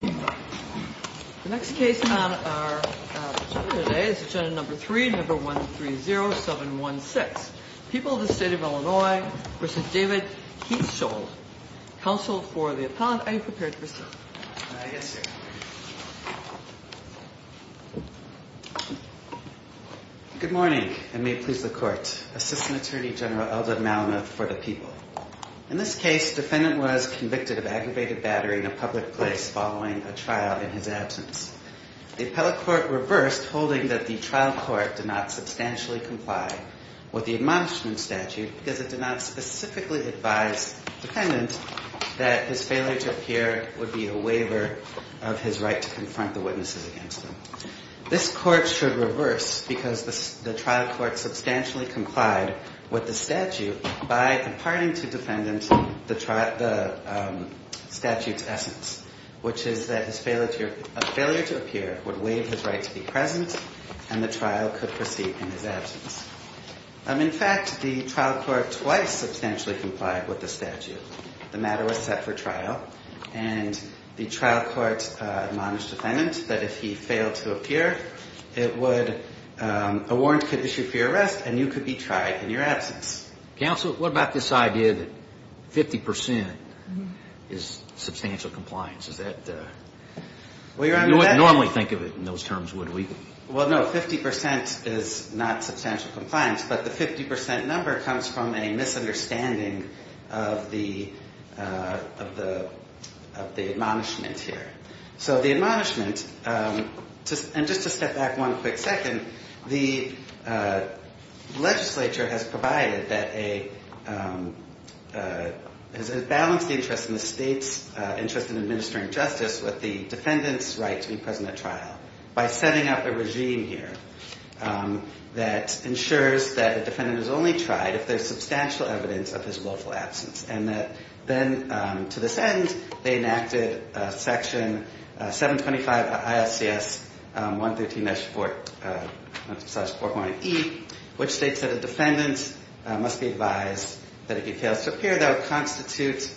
The next case on our agenda today is agenda number three, number 130716. People of the State of Illinois v. David Hietschold. Counsel for the appellant. Are you prepared to proceed? Yes, Your Honor. Good morning, and may it please the Court. Assistant Attorney General Eldred Malamuth for the People. In this case, defendant was convicted of aggravated battery in a public place following a trial in his absence. The appellate court reversed, holding that the trial court did not substantially comply with the admonishment statute because it did not specifically advise defendant that his failure to appear would be a waiver of his right to confront the witnesses against him. This court should reverse because the trial court substantially complied with the statute by imparting to defendant the statute's essence, which is that a failure to appear would waive his right to be present and the trial could proceed in his absence. In fact, the trial court twice substantially complied with the statute. The matter was set for trial, and the trial court admonished defendant that if he failed to appear, a warrant could issue for your arrest and you could be tried in your absence. Counsel, what about this idea that 50 percent is substantial compliance? You wouldn't normally think of it in those terms, would we? Well, no, 50 percent is not substantial compliance, but the 50 percent number comes from a misunderstanding of the admonishment here. So the admonishment, and just to step back one quick second, the legislature has provided that a balanced interest in the state's interest in administering justice with the defendant's right to be present at trial by setting up a regime here that ensures that a defendant is only tried if there's substantial evidence of his willful absence, and that then to this end, they enacted Section 725 ISCS 113-4.E, which states that a defendant must be advised that if he fails to appear, that would constitute,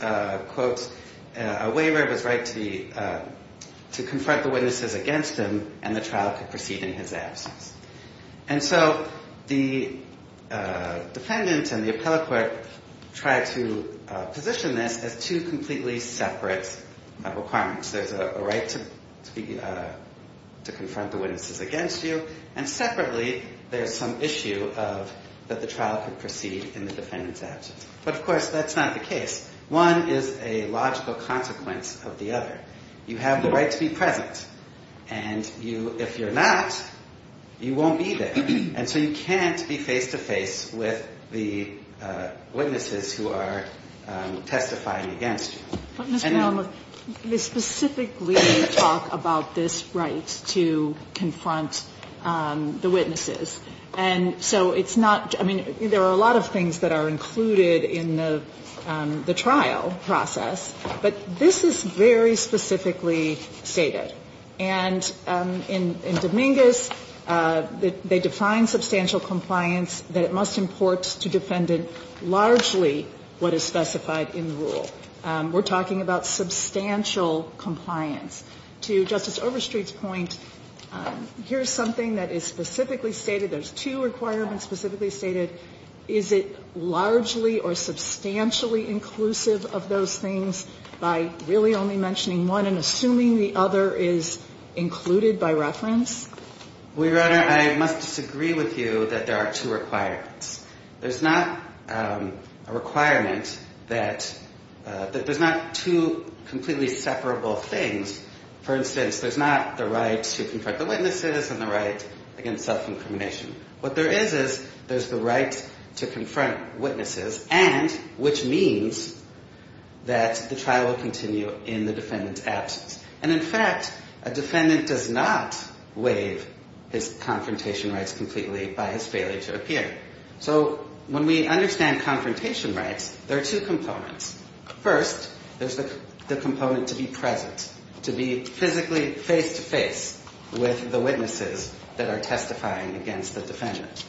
quote, a waiver of his right to confront the witnesses against him and the trial could proceed in his absence. And so the defendant and the appellate court tried to position this as two completely separate requirements. There's a right to confront the witnesses against you, and separately, there's some issue that the trial could proceed in the defendant's absence. But, of course, that's not the case. One is a logical consequence of the other. You have the right to be present, and you – if you're not, you won't be there. And so you can't be face-to-face with the witnesses who are testifying against you. But, Mr. Allen, look, they specifically talk about this right to confront the witnesses. And so it's not – I mean, there are a lot of things that are included in the trial process, but this is very specifically stated. And in Dominguez, they define substantial compliance that it must import to defendant largely what is specified in the rule. We're talking about substantial compliance. To Justice Overstreet's point, here's something that is specifically stated. There's two requirements specifically stated. Is it largely or substantially inclusive of those things by really only mentioning one and assuming the other is included by reference? Well, Your Honor, I must disagree with you that there are two requirements. There's not a requirement that – that there's not two completely separable things. For instance, there's not the right to confront the witnesses and the right against self-incrimination. What there is is there's the right to confront witnesses and – which means that the trial will continue in the defendant's absence. And in fact, a defendant does not waive his confrontation rights completely by his So when we understand confrontation rights, there are two components. First, there's the component to be present, to be physically face-to-face with the witnesses that are testifying against the defendant.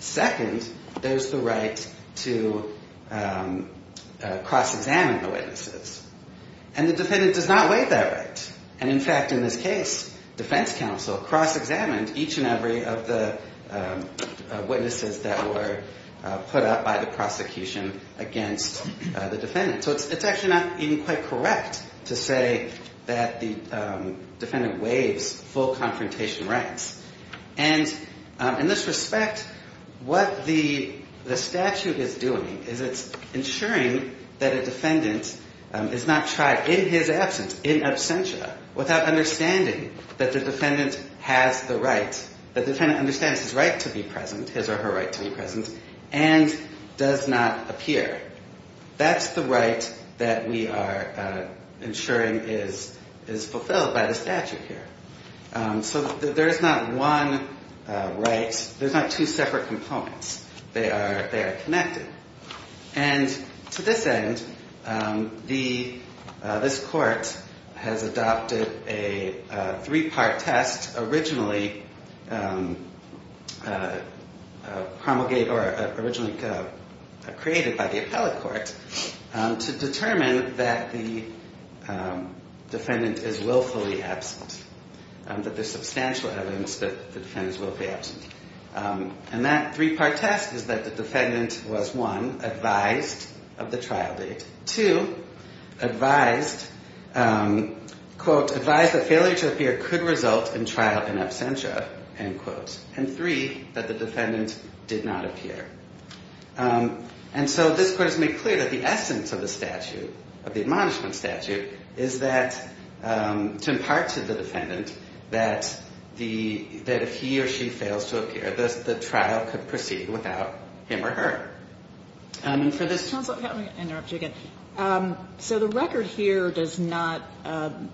Second, there's the right to cross-examine the witnesses. And the defendant does not waive that right. And in fact, in this case, defense counsel cross-examined each and every of the witnesses that were put up by the prosecution against the defendant. So it's actually not even quite correct to say that the defendant waives full confrontation rights. And in this respect, what the statute is doing is it's ensuring that a defendant is not tried in his absence, in absentia, without understanding that the defendant has the right, that the defendant understands his right to be present, his or her right to be present, and does not appear. That's the right that we are ensuring is fulfilled by the statute here. So there's not one right – there's not two separate components. They are connected. And to this end, this court has adopted a three-part test originally promulgated or originally created by the appellate court to determine that the defendant is willfully absent, that there's substantial evidence that the defendant is willfully absent. And that three-part test is that the defendant was, one, advised of the trial date, two, advised, quote, advised that failure to appear could result in trial in absentia, end quote, and three, that the defendant did not appear. And so this court has made clear that the essence of the statute, of the admonishment statute, is that to impart to the defendant that if he or she fails to appear, the trial could proceed without him or her. And for this – Counsel, let me interrupt you again. So the record here does not –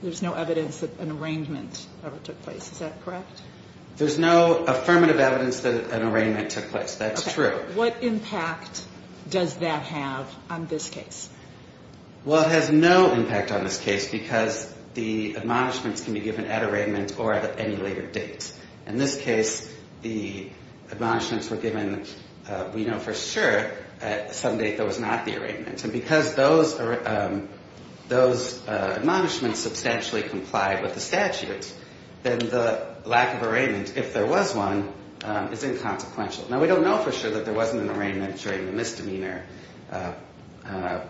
there's no evidence that an arraignment ever took place. Is that correct? There's no affirmative evidence that an arraignment took place. That's true. Okay. What impact does that have on this case? Well, it has no impact on this case because the admonishments can be given at arraignment or at any later date. In this case, the admonishments were given, we know for sure, at some date there was not the arraignment. And because those admonishments substantially complied with the statute, then the lack of arraignment, if there was one, is inconsequential. Now, we don't know for sure that there wasn't an arraignment during the misdemeanor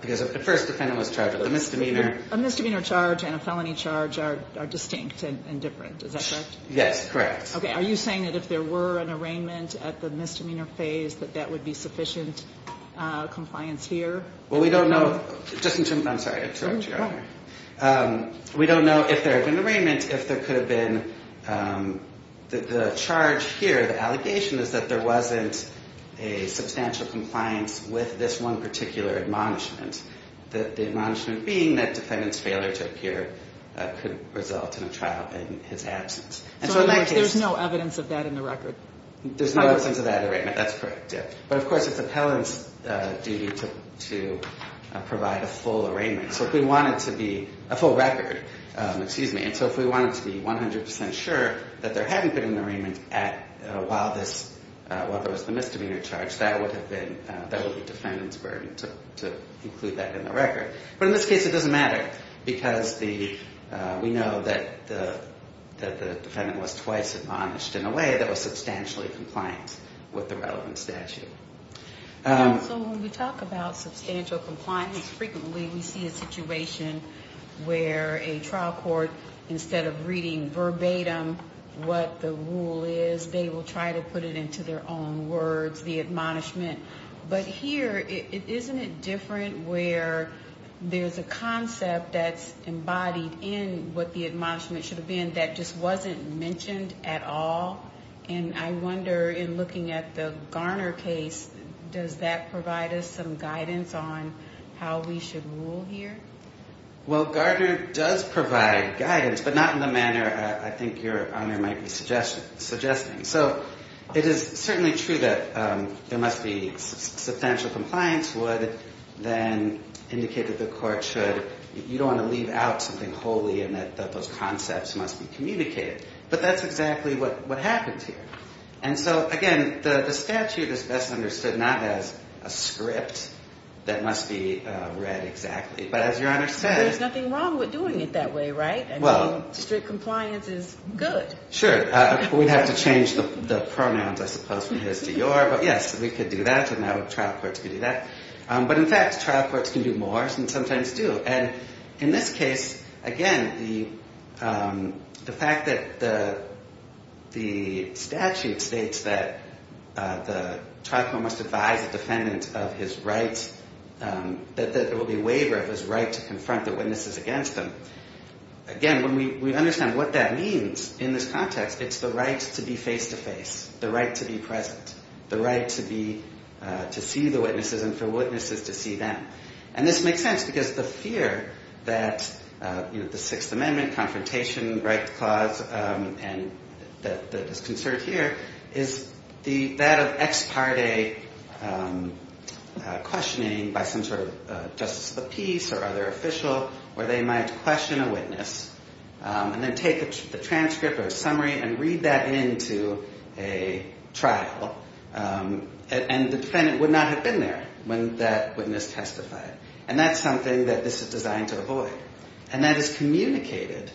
because at first the defendant was charged with a misdemeanor. A misdemeanor charge and a felony charge are distinct and different. Is that correct? Yes, correct. Okay. Are you saying that if there were an arraignment at the misdemeanor phase that that would be sufficient compliance here? Well, we don't know. Just in terms of ‑‑ I'm sorry, I interrupted you, Your Honor. We don't know if there had been an arraignment, if there could have been the charge here, the allegation is that there wasn't a substantial compliance with this one particular admonishment. The admonishment being that defendant's failure to appear could result in a absence. There's no evidence of that in the record? There's no evidence of that arraignment. That's correct, yes. But, of course, it's appellant's duty to provide a full arraignment. So if we want it to be a full record, excuse me, and so if we want it to be 100% sure that there hadn't been an arraignment while there was the misdemeanor charge, that would be defendant's burden to include that in the record. But in this case, it doesn't matter because we know that the defendant was twice admonished in a way that was substantially compliant with the relevant statute. So when we talk about substantial compliance, frequently we see a situation where a trial court, instead of reading verbatim what the rule is, they will try to put it into their own words, the admonishment. But here, isn't it different where there's a concept that's embodied in what the admonishment should have been that just wasn't mentioned at all? And I wonder, in looking at the Garner case, does that provide us some guidance on how we should rule here? Well, Garner does provide guidance, but not in the manner I think your honor might be suggesting. So it is certainly true that there must be substantial compliance, would then indicate that the court should, you don't want to leave out something wholly and that those concepts must be communicated. But that's exactly what happens here. And so, again, the statute is best understood not as a script that must be read exactly. But as your honor said. There's nothing wrong with doing it that way, right? I mean, strict compliance is good. Sure. We'd have to change the pronouns, I suppose, from his to your. But yes, we could do that. And now trial courts could do that. But in fact, trial courts can do more than sometimes do. And in this case, again, the fact that the statute states that the trial court must advise the defendant of his right, that there will be a waiver of his right to confront the witnesses against him. Again, when we understand what that means in this context, it's the right to be face-to-face, the right to be present, the right to be, to see the witnesses and for witnesses to see them. And this makes sense because the fear that, you know, the Sixth Amendment confrontation right clause and that is concerned here is the, that of ex-parte questioning by some sort of justice of the peace or other official where they might question a witness and then take the transcript or a summary and read that into a trial. And the defendant would not have been there when that witness testified. And that's something that this is designed to avoid. And that is communicated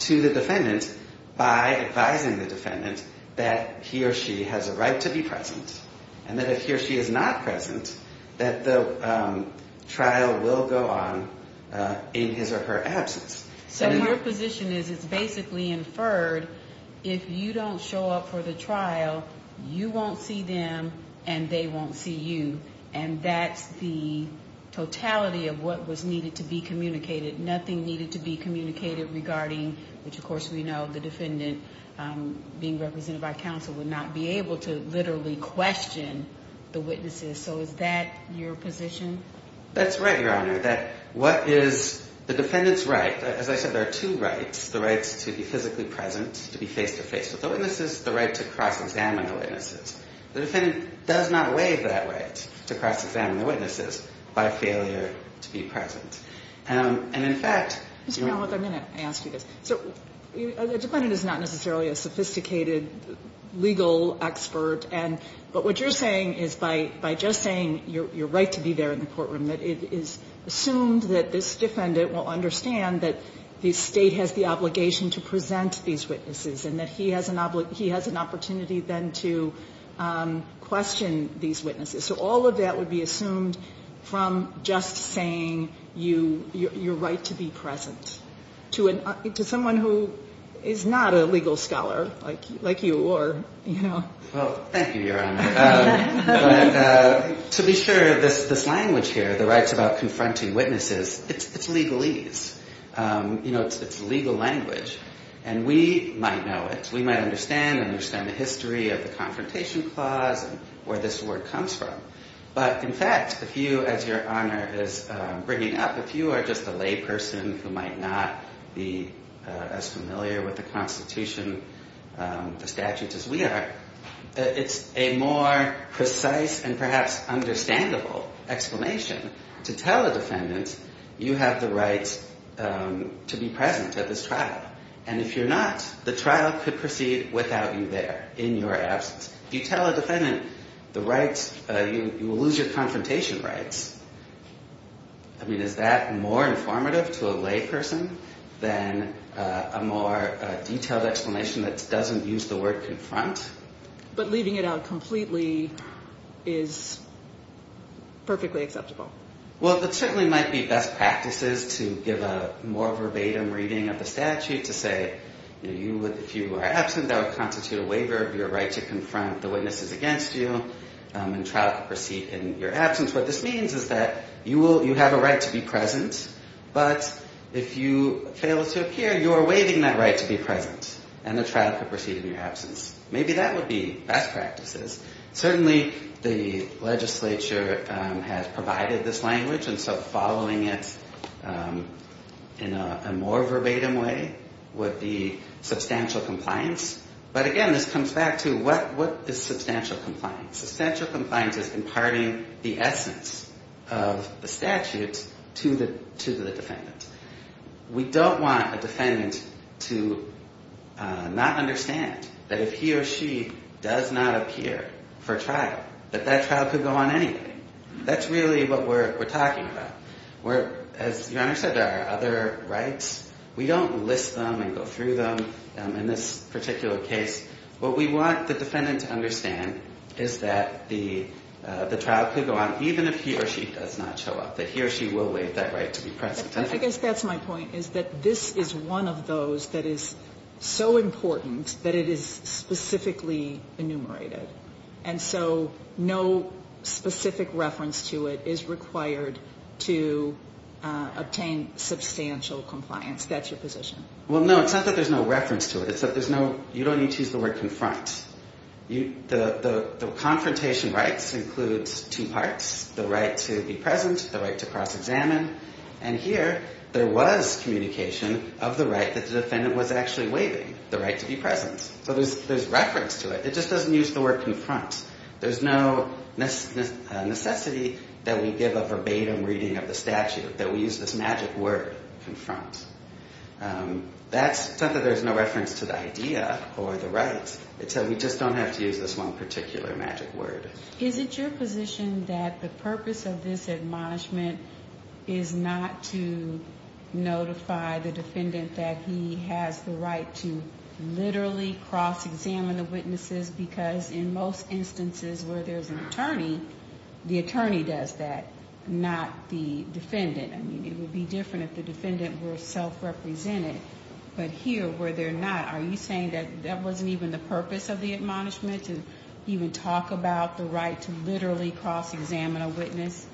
to the defendant by advising the defendant that he or she has a right to be present and that if he or she is not present, that the trial will go on in his or her absence. So your position is it's basically inferred if you don't show up for the trial, you won't see them and they won't see you. And that's the totality of what was needed to be communicated. Nothing needed to be communicated regarding, which of course we know the defendant being represented by counsel would not be able to literally question the witnesses. So is that your position? That's right, Your Honor. That what is the defendant's right, as I said, there are two rights. The right to be physically present, to be face-to-face with the witnesses. The right to cross-examine the witnesses. The defendant does not waive that right to cross-examine the witnesses by failure to be present. And in fact... Mr. Greenwald, I'm going to ask you this. So the defendant is not necessarily a sophisticated legal expert. But what you're saying is by just saying your right to be there in the courtroom, it is assumed that this defendant will understand that the State has the obligation to present these witnesses and that he has an opportunity then to question these witnesses. So all of that would be assumed from just saying your right to be present. To someone who is not a legal scholar like you or, you know... Well, thank you, Your Honor. But to be sure, this language here, the rights about confronting witnesses, it's legalese. You know, it's legal language. And we might know it. We might understand and understand the history of the Confrontation Clause and where this word comes from. But in fact, if you, as Your Honor is bringing up, if you are just a lay person who might not be as familiar with the Constitution, the statutes as we are, it's a more precise and perhaps understandable explanation to tell a defendant you have the right to be present at this trial. And if you're not, the trial could proceed without you there in your absence. If you tell a defendant the rights, you will lose your confrontation rights. I mean, is that more informative to a lay person than a more detailed explanation that doesn't use the word confront? But leaving it out completely is perfectly acceptable. Well, it certainly might be best practices to give a more verbatim reading of the statute to say, you know, if you are absent, that would constitute a waiver of your right to confront the witnesses against you and trial could proceed in your absence. What this means is that you have a right to be present, but if you fail to appear, you are waiving that right to be present. And the trial could proceed in your absence. Maybe that would be best practices. Certainly, the legislature has provided this language, and so following it in a more verbatim way would be substantial compliance. But again, this comes back to what is substantial compliance? Substantial compliance is imparting the essence of the statute to the defendant. We don't want a defendant to not understand that if he or she does not appear for trial, that that trial could go on anyway. That's really what we're talking about. As Your Honor said, there are other rights. We don't list them and go through them in this particular case. What we want the defendant to understand is that the trial could go on even if he or she does not show up, that he or she will waive that right to be present. I guess that's my point, is that this is one of those that is so important that it is specifically enumerated, and so no specific reference to it is required to obtain substantial compliance. That's your position. Well, no, it's not that there's no reference to it. You don't need to use the word confront. The confrontation rights include two parts, the right to be present, the right to cross-examine, and here there was communication of the right that the defendant was actually waiving, the right to be present. So there's reference to it. It just doesn't use the word confront. There's no necessity that we give a verbatim reading of the statute that we use this magic word, confront. That's not that there's no reference to the idea or the right. It's that we just don't have to use this one particular magic word. Is it your position that the purpose of this admonishment is not to notify the defendant that he has the right to literally cross-examine the witnesses because in most instances where there's an attorney, the attorney does that, not the defendant. I mean, it would be different if the defendant were self-represented, but here where they're not, are you saying that that wasn't even the purpose of the admonishment to even talk about the right to literally cross-examine a witness?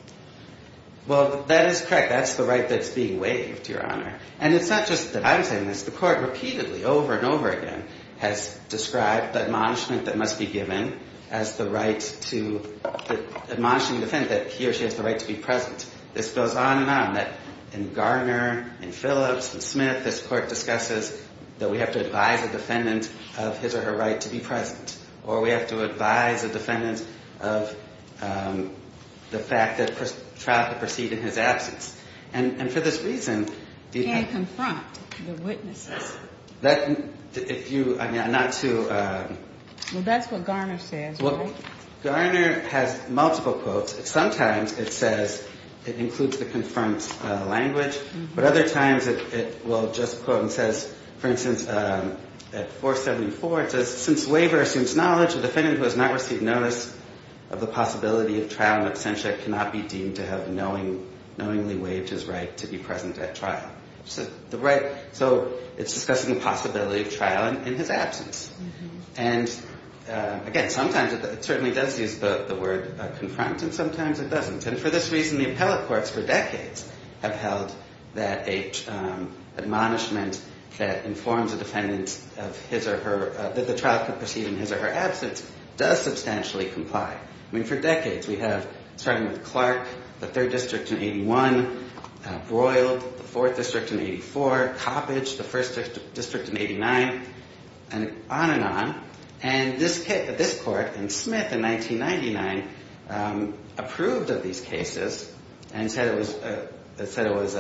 Well, that is correct. That's the right that's being waived, Your Honor. And it's not just that I'm saying this. The court repeatedly over and over again has described the admonishment that must be given as the right to admonish the defendant that he or she has the right to be present. This goes on and on, that in Garner, in Phillips, in Smith, this court discusses that we have to advise a defendant of his or her right to be present, or we have to advise a defendant of the fact that a trial could proceed in his absence. And for this reason... And confront the witnesses. If you, I mean, not to... Well, that's what Garner says, right? Garner has multiple quotes. Sometimes it says it includes the confirmed language, but other times it will just quote and says, for instance, at 474 it says, since waiver assumes knowledge, a defendant who has not received notice of the possibility of trial in absentia cannot be deemed to have knowingly waived his right to be present at trial. So it's discussing the possibility of trial in his absence. And again, sometimes it certainly does use the word confront, and sometimes it doesn't. And for this reason, the appellate courts for decades have held that an admonishment that informs a defendant that the trial could proceed in his or her absence does substantially comply. I mean, for decades we have, starting with Clark, the 3rd District in 81, Broyle, the 4th District in 84, Coppedge, the 1st District in 89, and on and on. And this court in Smith in 1999 approved of these cases and said it was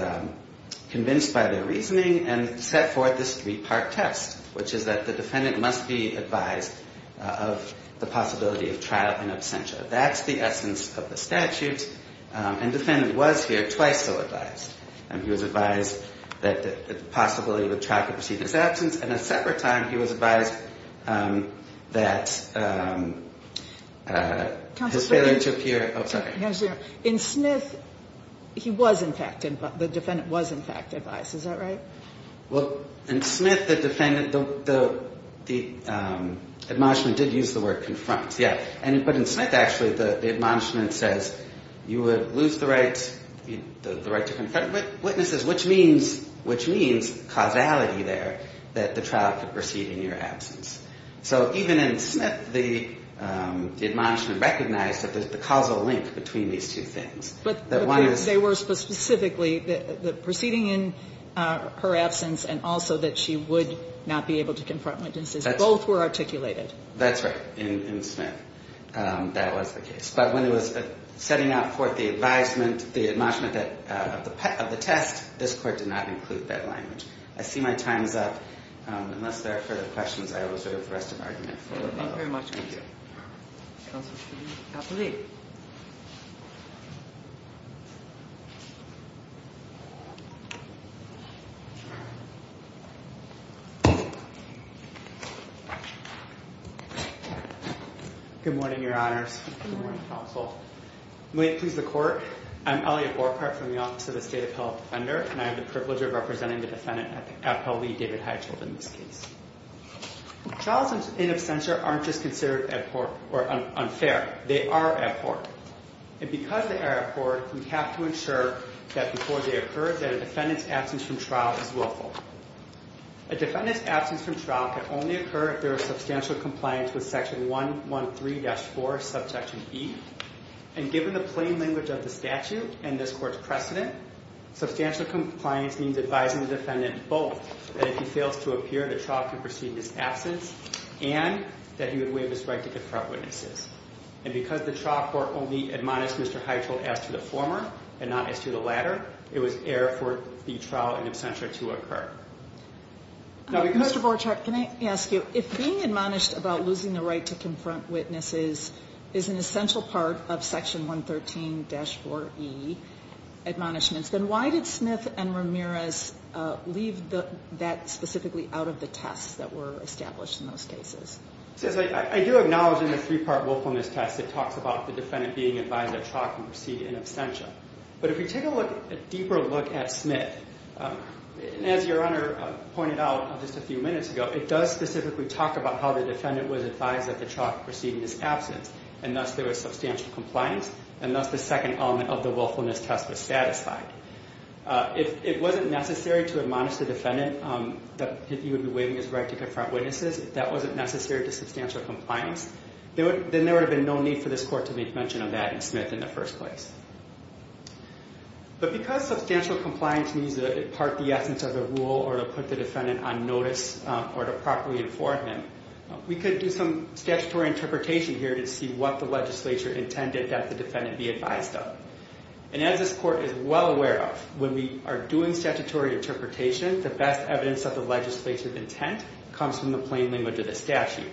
convinced by their reasoning and set forth this three-part test, which is that the defendant must be advised of the possibility of trial in absentia. That's the essence of the statute. And the defendant was here twice so advised. He was advised that the possibility of a trial could proceed in his absence, and a separate time he was advised that his failure to appear. In Smith, he was in fact advised. The defendant was in fact advised. Is that right? Well, in Smith, the admonishment did use the word confront. Yeah. But in Smith, actually, the admonishment says you would lose the right to confront witnesses, which means causality there that the trial could proceed in your absence. So even in Smith, the admonishment recognized that there's the causal link between these two things. But they were specifically proceeding in her absence and also that she would not be able to confront witnesses. Both were articulated. That's right. In Smith, that was the case. But when it was setting out for the advisement, the admonishment of the test, this Court did not include that language. I see my time is up. Unless there are further questions, I will serve the rest of the argument. Thank you very much. Thank you. Counsel, please. Dr. Lee. Good morning, Your Honors. Good morning, Counsel. May it please the Court. I'm Elliot Borchardt from the Office of the State of Health Defender, and I have the privilege of representing the defendant, Appel v. David Heitchell, in this case. Trials in absentia aren't just considered unfair. They are abhorred. And because they are abhorred, we have to ensure that before they occur, that a defendant's absence from trial is willful. A defendant's absence from trial can only occur if there is substantial compliance with Section 113-4, Subsection E. And given the plain language of the statute and this Court's precedent, substantial compliance means advising the defendant both that if he fails to appear, the trial can proceed in his absence, and that he would waive his right to confront witnesses. And because the trial court only admonished Mr. Heitchell as to the former and not as to the latter, it was error for the trial in absentia to occur. Mr. Borchardt, can I ask you, if being admonished about losing the right to confront witnesses is an essential part of Section 113-4E admonishments, then why did Smith and Ramirez leave that specifically out of the tests that were established in those cases? I do acknowledge in the three-part willfulness test, it talks about the defendant being advised that the trial can proceed in absentia. But if we take a deeper look at Smith, as Your Honor pointed out just a few minutes ago, it does specifically talk about how the defendant was advised that the trial could proceed in his absence. And thus there was substantial compliance, and thus the second element of the willfulness test was satisfied. If it wasn't necessary to admonish the defendant that he would be waiving his right to confront witnesses, if that wasn't necessary to substantial compliance, then there would have been no need for this court to make mention of that in Smith in the first place. But because substantial compliance means that it's part of the essence of the rule or to put the defendant on notice or to properly inform him, we could do some statutory interpretation here to see what the legislature intended that the defendant be advised of. And as this court is well aware of, when we are doing statutory interpretation, the best evidence of the legislative intent comes from the plain language of the statute.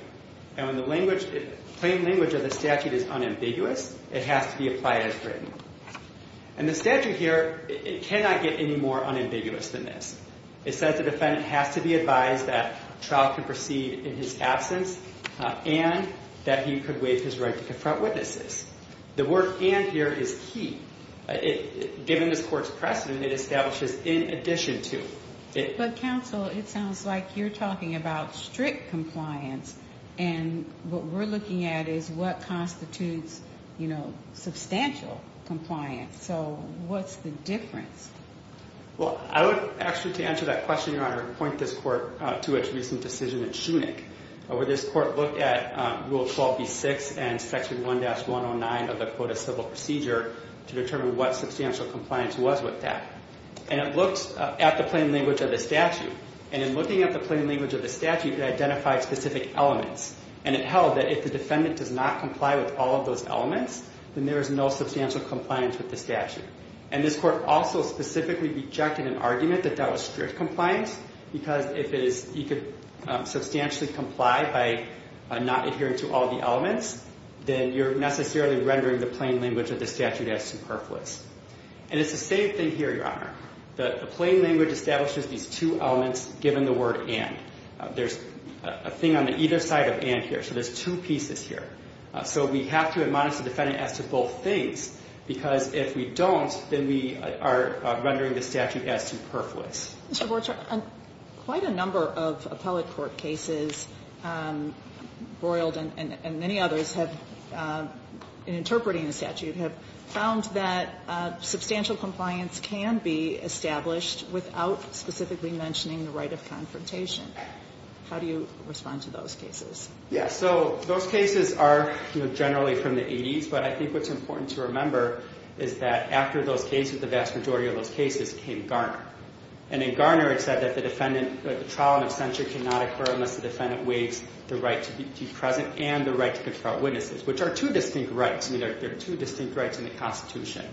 And when the plain language of the statute is unambiguous, it has to be applied as written. And the statute here, it cannot get any more unambiguous than this. It says the defendant has to be advised that trial can proceed in his absence and that he could waive his right to confront witnesses. The word and here is he. Given this court's precedent, it establishes in addition to. But counsel, it sounds like you're talking about strict compliance and what we're looking at is what constitutes, you know, substantial compliance. So what's the difference? Well, I would actually to answer that question, I point this court to its recent decision in shooning over this court, look at rule 12, B six and section one dash one on nine of the quota civil procedure to determine what substantial compliance was with that. And it looks at the plain language of the statute. And in looking at the plain language of the statute that identified specific elements. And it held that if the defendant does not comply with all of those elements, then there is no substantial compliance with the statute. And this court also specifically rejected an argument that that was strict compliance, because if it is, you could substantially comply by not adhering to all the elements, then you're necessarily rendering the plain language of the statute as superfluous. And it's the same thing here. Your Honor, the plain language establishes these two elements given the word and there's a thing on the either side of and here. So there's two pieces here. So we have to admonish the defendant as to both things, because if we don't, then we are rendering the statute as superfluous. Mr. Borchardt, quite a number of appellate court cases, Broyled and many others have, in interpreting the statute, have found that substantial compliance can be established without specifically mentioning the right of confrontation. How do you respond to those cases? Yeah. So those cases are generally from the 80s, but I think what's important to remember is that after those cases, the vast majority of those cases came Garner. And in Garner, it said that the defendant, the trial in absentia cannot occur unless the defendant waives the right to be present and the right to confront witnesses, which are two distinct rights. I mean, there are two distinct rights in the constitution.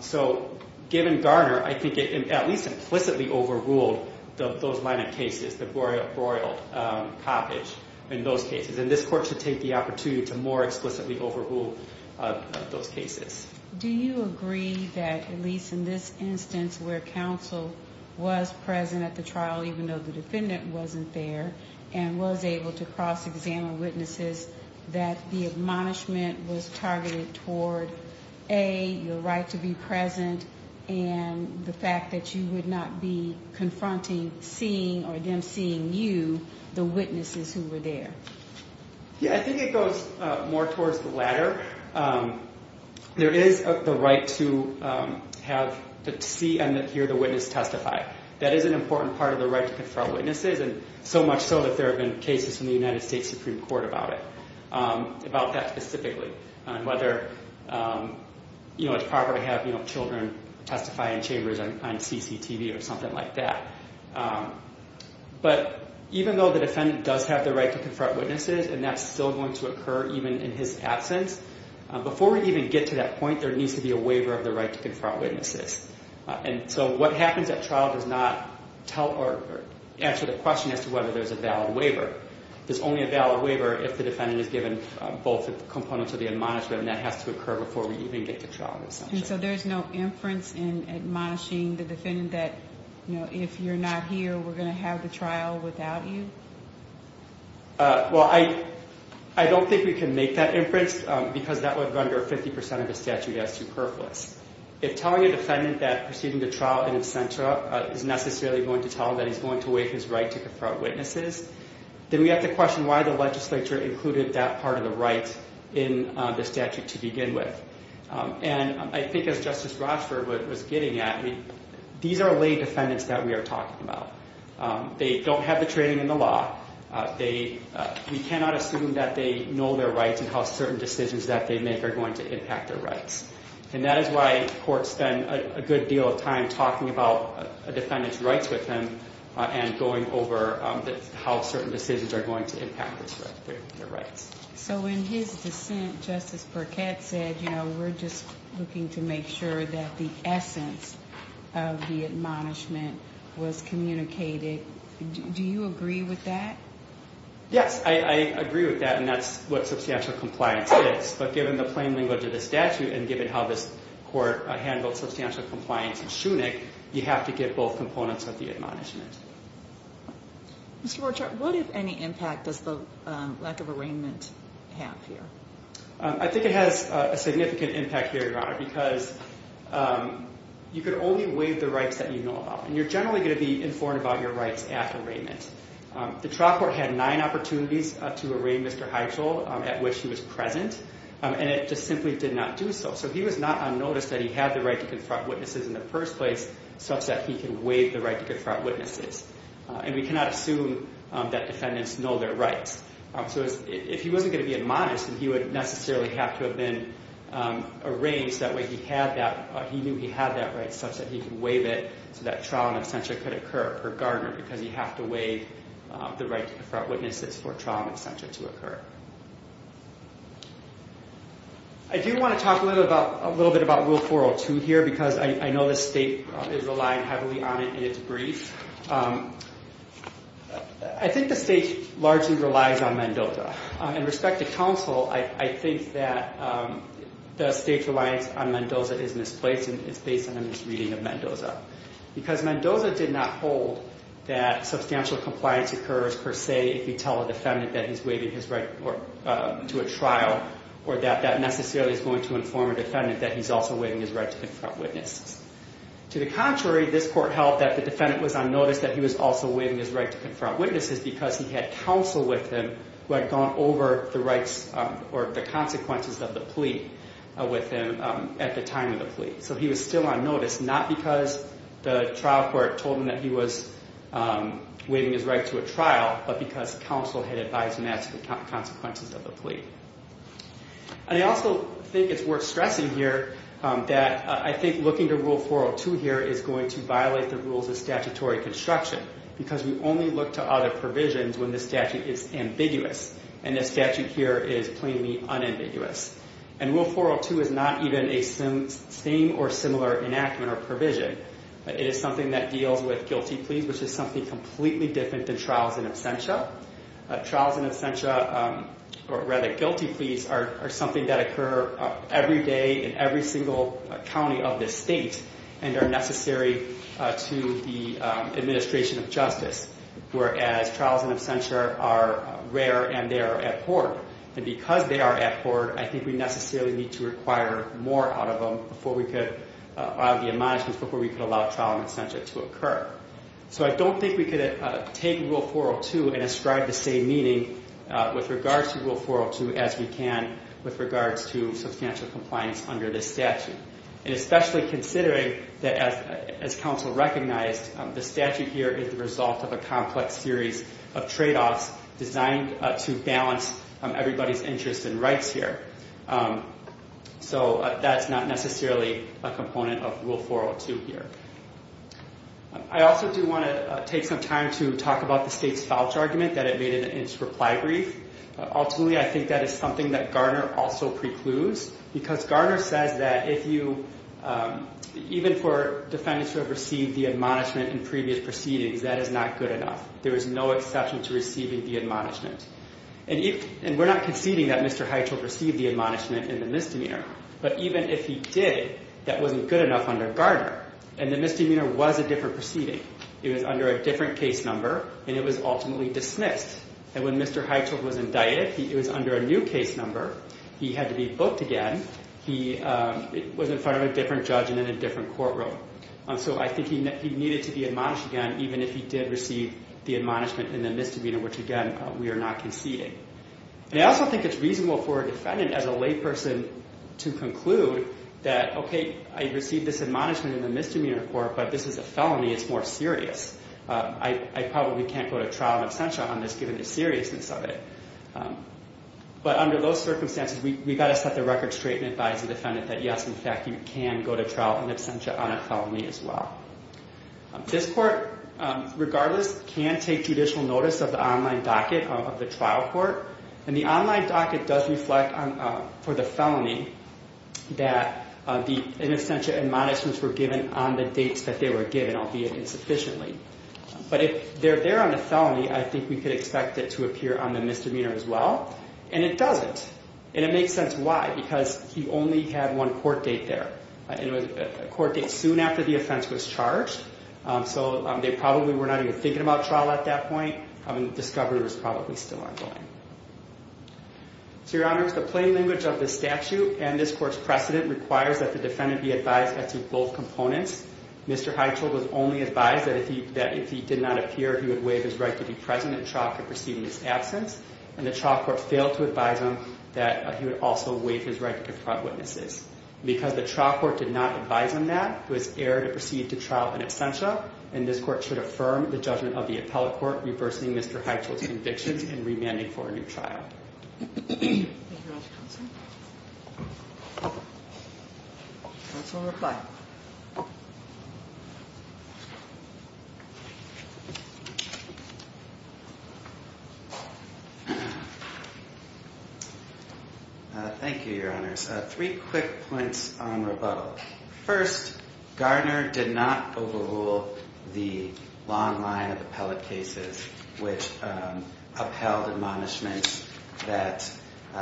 So given Garner, I think it at least implicitly overruled those line of cases, the Broyled Coppage in those cases. And this court should take the opportunity to more explicitly overrule those cases. Do you agree that at least in this instance where counsel was present at the trial, even though the defendant wasn't there and was able to cross examine witnesses, that the admonishment was targeted toward a, your right to be present and the fact that you would not be confronting seeing, or them seeing you, the witnesses who were there. Yeah, I think it goes more towards the latter. There is the right to have, to see and hear the witness testify. That is an important part of the right to confront witnesses. And so much so that there have been cases in the United States Supreme Court about it, about that specifically on whether, you know, it's proper to have, you know, children testify in chambers on CCTV or something like that. But even though the defendant does have the right to confront witnesses and that's still going to occur even in his absence, before we even get to that point, there needs to be a waiver of the right to confront witnesses. And so what happens at trial does not tell, or answer the question as to whether there's a valid waiver. There's only a valid waiver if the defendant is given both components of the admonishment and that has to occur before we even get to trial. And so there's no inference in admonishing the defendant that, you know, if you're not here, we're going to have the trial without you. Well, I don't think we can make that inference because that would render 50% of the statute as superfluous. If telling a defendant that proceeding to trial in absentia is necessarily going to tell him that he's going to waive his right to confront witnesses, then we have to question why the legislature included that part of the right in the statute to begin with. And I think as Justice Rochford was getting at, these are lay defendants that we are talking about. They don't have the training in the law. We cannot assume that they know their rights and how certain decisions that they make are going to impact their rights. And that is why courts spend a good deal of time talking about a defendant's rights with them and going over how certain decisions are going to impact their rights. So in his dissent, Justice Burkett said, you know, we're just looking to make sure that the essence of the admonishment was communicated. Do you agree with that? I agree with that. And that's what substantial compliance is. But given the plain language of the statute and given how this court handled substantial compliance in Schoenig, you have to get both components of the admonishment. Mr. Rochford, what, impact does the lack of arraignment have here? I think it has a significant impact here, because you could only waive the rights that you know about. And you're generally going to be informed about your rights after arraignment. The trial court had nine opportunities to arraign Mr. Hytchel at which he was present. And it just simply did not do so. So he was not on notice that he had the right to confront witnesses in the first place, such that he can waive the right to confront witnesses. And we cannot assume that defendants know their rights. So if he wasn't going to be admonished, then he would necessarily have to have been arraigned. That way he knew he had that right, such that he could waive it so that trial and absentia could occur per gardener, because you have to waive the right to confront witnesses for trial and absentia to occur. I do want to talk a little bit about rule 402 here, because I know the state is relying heavily on it in its brief. I think the state largely relies on Mendoza. In respect to counsel, I think that the state's reliance on Mendoza is misplaced and it's based on this reading of Mendoza. Because Mendoza did not hold that substantial compliance occurs per se, if you tell a defendant that he's waiving his right to a trial, or that that necessarily is going to inform a defendant that he's also waiving his right to confront witnesses. To the contrary, this court held that the defendant was on notice that he was also waiving his right to confront witnesses, because he had counsel with him who had gone over the rights or the consequences of the plea with him at the time of the plea. So he was still on notice, not because the trial court told him that he was waiving his right to a but because counsel had advised him as to the consequences of the plea. I also think it's worth stressing here that I think looking to rule 402 here is going to violate the rules of statutory construction, because we only look to other provisions when the statute is ambiguous. And this statute here is plainly unambiguous. And rule 402 is not even a same or similar enactment or provision. It is something that deals with guilty pleas, which is something completely different than trials in absentia. Trials in absentia or rather guilty pleas are something that occur every day in every single county of this state and are necessary to the administration of justice. Whereas trials in absentia are rare and they are at court and because they are at court, I think we necessarily need to require more out of them before we could allow the admonishments before we could allow trial in absentia to occur. So I don't think we could take rule 402 and ascribe the same meaning with regards to rule 402 as we can with regards to substantial compliance under this statute. And especially considering that as, as counsel recognized the statute here is the result of a complex series of trade-offs designed to balance everybody's interests and rights here. So that's not necessarily a component of rule 402 here. I also do want to take some time to talk about the state's falch argument that it made in its reply brief. Ultimately I think that is something that Garner also precludes because Garner says that if you, even for defendants who have received the admonishment in previous proceedings, that is not good enough. There is no exception to receiving the admonishment. And we're not conceding that Mr. Hytcheld received the admonishment in the misdemeanor, but even if he did, that wasn't good enough under Garner. And the misdemeanor was a different proceeding. It was under a different case number and it was ultimately dismissed. And when Mr. Hytcheld was indicted, it was under a new case number. He had to be booked again. He was in front of a different judge and in a different courtroom. So I think he needed to be admonished again, even if he did receive the admonishment in the misdemeanor, which again, we are not conceding. And I also think it's reasonable for a defendant as a lay person to conclude that, okay, I received this admonishment in the misdemeanor court, but this is a felony. It's more serious. I probably can't go to trial and absentia on this given the seriousness of it. But under those circumstances, we got to set the record straight and advise the defendant that yes, in fact, you can go to trial and absentia on a felony as well. This court, regardless, can take judicial notice of the online docket of the trial court. And the online docket does reflect for the felony that the in absentia admonishments were given on the dates that they were given, albeit insufficiently. But if they're there on a felony, I think we could expect it to appear on the misdemeanor as well. And it doesn't. And it makes sense. Why? Because he only had one court date there. And it was a court date soon after the offense was charged. So they probably were not even thinking about trial at that point. I mean, the discovery was probably still ongoing. So, Your Honors, the plain language of the statute and this court's precedent requires that the defendant be advised as to both components. Mr. Hytchel was only advised that if he did not appear, he would waive his right to be present at trial for proceeding his absence. And the trial court failed to advise him that he would also waive his right to confront witnesses. Because the trial court did not advise him that, he was erred to proceed to trial in absentia. And this court should affirm the judgment of the appellate court reversing Mr. Hytchel's convictions and remanding for a new trial. Thank you very much, Counsel. Counsel will reply. Thank you, Your Honors. Three quick points on rebuttal. First, Garner did not overrule the long line of appellate cases, which upheld admonishments that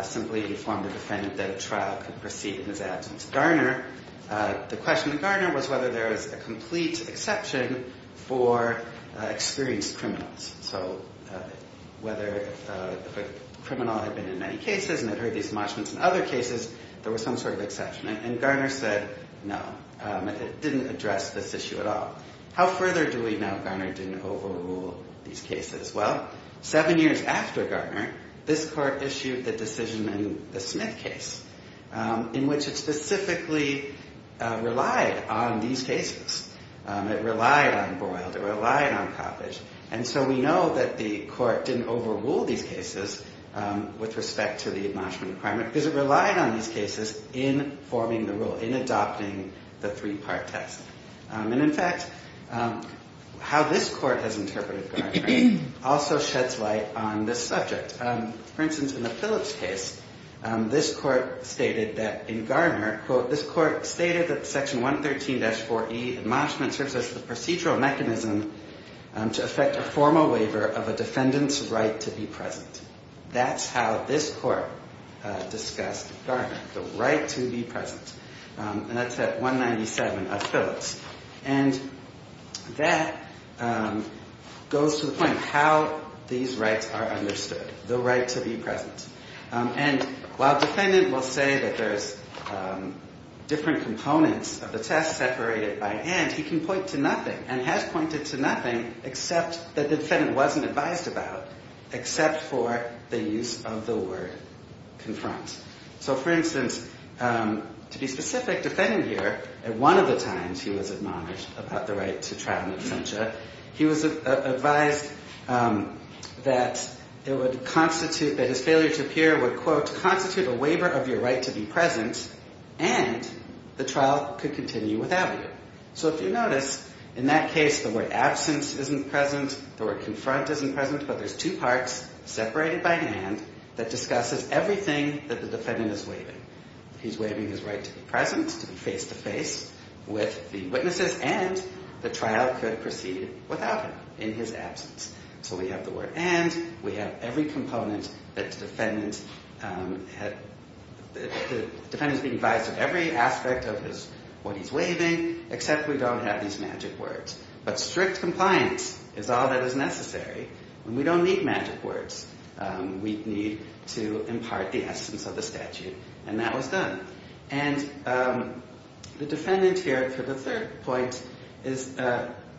simply informed the defendant that a trial could proceed in his absence. Garner, the question to Garner was whether there was a complete exception for experienced criminals. So, whether a criminal had been in many cases and had heard these admonishments and other cases, there was some sort of exception. And Garner said, no. It didn't address this issue at all. How further do we know Garner didn't overrule these cases? Well, seven years after Garner, this court issued the decision in the Smith case, in which it specifically relied on these cases. It relied on Boyle. It relied on Coppedge. And so we know that the court didn't overrule these cases with respect to the admonishment requirement, because it relied on these cases in forming the rule, in adopting the three-part test. And, in fact, how this court has interpreted Garner also sheds light on this subject. For instance, in the Phillips case, this court stated that in Garner, quote, this court stated that section 113-4E admonishment serves as the procedural mechanism to affect a formal waiver of a defendant's right to be present. That's how this court discussed Garner, the right to be present. And that's at 197 of Phillips. And that goes to the point of how these rights are understood, the right to be present. And while a defendant will say that there's different components of the test separated by and, he can point to nothing and has pointed to nothing except that the defendant wasn't advised about, except for the use of the word confront. So, for instance, to be specific, defendant here, at one of the times he was admonished about the right to trial and absentia, he was advised that it would constitute, that his failure to appear would, constitute a waiver of your right to be present and the trial could continue without you. So if you notice in that case, the word absence isn't present, the word confront isn't present, but there's two parts separated by hand that discusses everything that the defendant is waiving. He's waiving his right to be present, to be face to face with the witnesses and the trial could proceed without him in his absence. So we have the word, and we have every component that's defendant, the defendant is being advised of every aspect of his, what he's waiving, except we don't have these magic words, but strict compliance is all that is necessary. And we don't need magic words. We need to impart the essence of the statute. And that was done. And the defendant here for the third point is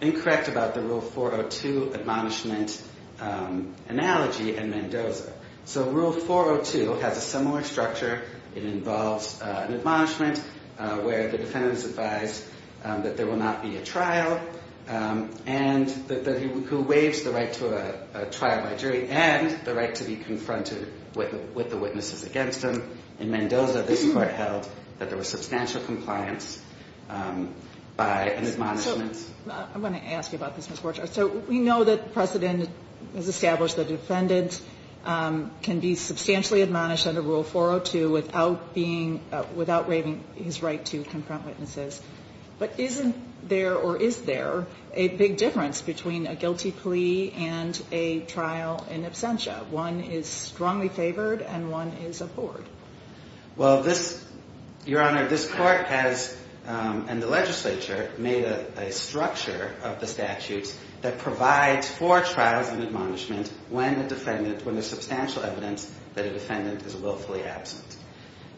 incorrect about the rule 402 admonishment analogy and Mendoza. So rule 402 has a similar structure. It involves an admonishment where the defendant is advised that there will not be a trial. And that he, who waives the right to a trial by jury and the right to be confronted with the witnesses against them. In Mendoza, this court held that there was substantial compliance by an admonishment. I'm going to ask you about this. So we know that precedent has established that defendants can be substantially admonished under rule 402 without being, without waiving his right to confront witnesses, but isn't there, or is there a big difference between a guilty plea and a trial in absentia? One is strongly favored and one is abhorred. Well, this your honor, this court has, and the legislature made a structure of the statutes that provides for trials and admonishment when the defendant, when there's substantial evidence that a defendant is willfully absent.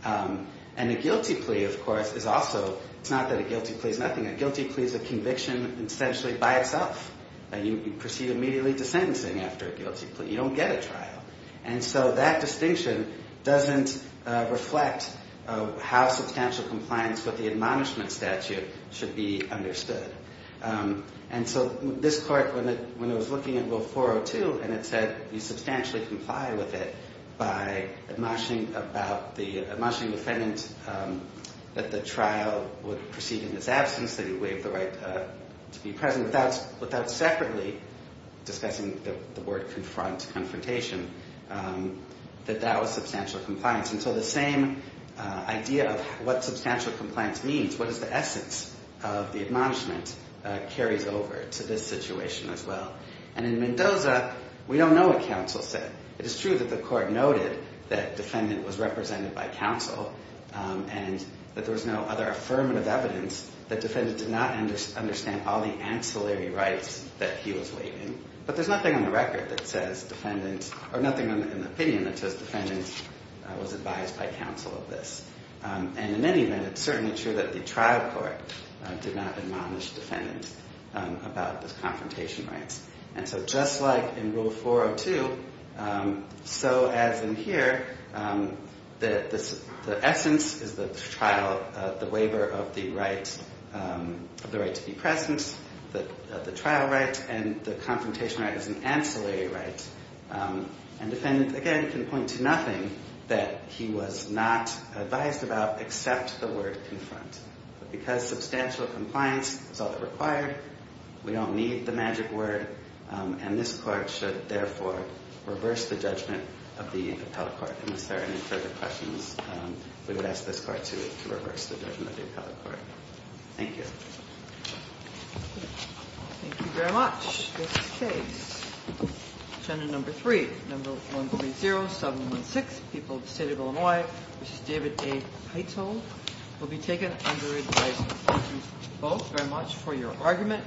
Um, and the guilty plea of course is also, it's not that a guilty plea is nothing. A guilty plea is a conviction essentially by itself. And you proceed immediately to sentencing after a guilty plea. You don't get a trial. And so that distinction doesn't reflect how substantial compliance with the admonishment statute should be understood. and so this court, when it, when it was looking at rule 402 and it said you substantially comply with it by admonishing about the, admonishing defendant, um, that the trial would proceed in this absence that he waived the right, uh, to be present without, without separately discussing the word confront confrontation, um, that that was substantial compliance. And so the same, uh, idea of what substantial compliance means, what is the essence of the admonishment, uh, carries over to this situation as well. And in Mendoza, we don't know what counsel said. It is true that the court noted that defendant was represented by counsel, um, and that there was no other affirmative evidence that defendants did not understand all the ancillary rights that he was waiting, but there's nothing on the record that says defendants or nothing in the opinion that says defendants was advised by counsel of this. Um, and in any event, it's certainly true that the trial court did not admonish defendants, um, about this confrontation rights. And so just like in rule 402, um, so as in here, um, that this, the essence is the trial, uh, the waiver of the rights, um, the right to be present, the, uh, the trial rights and the confrontation right as an ancillary rights. Um, and defendants again can point to nothing that he was not advised about except the word confront, but because substantial compliance is all that required, we don't need the magic word. Um, and this court should therefore reverse the judgment of the appellate court. And is there any further questions? Um, we would ask this court to reverse the judgment of the appellate court. Thank you. Thank you very much. This case, agenda number three, number one, three, zero seven, one six people, the state of Illinois, which is David, a title will be taken under advice. Thank you both very much for your argument.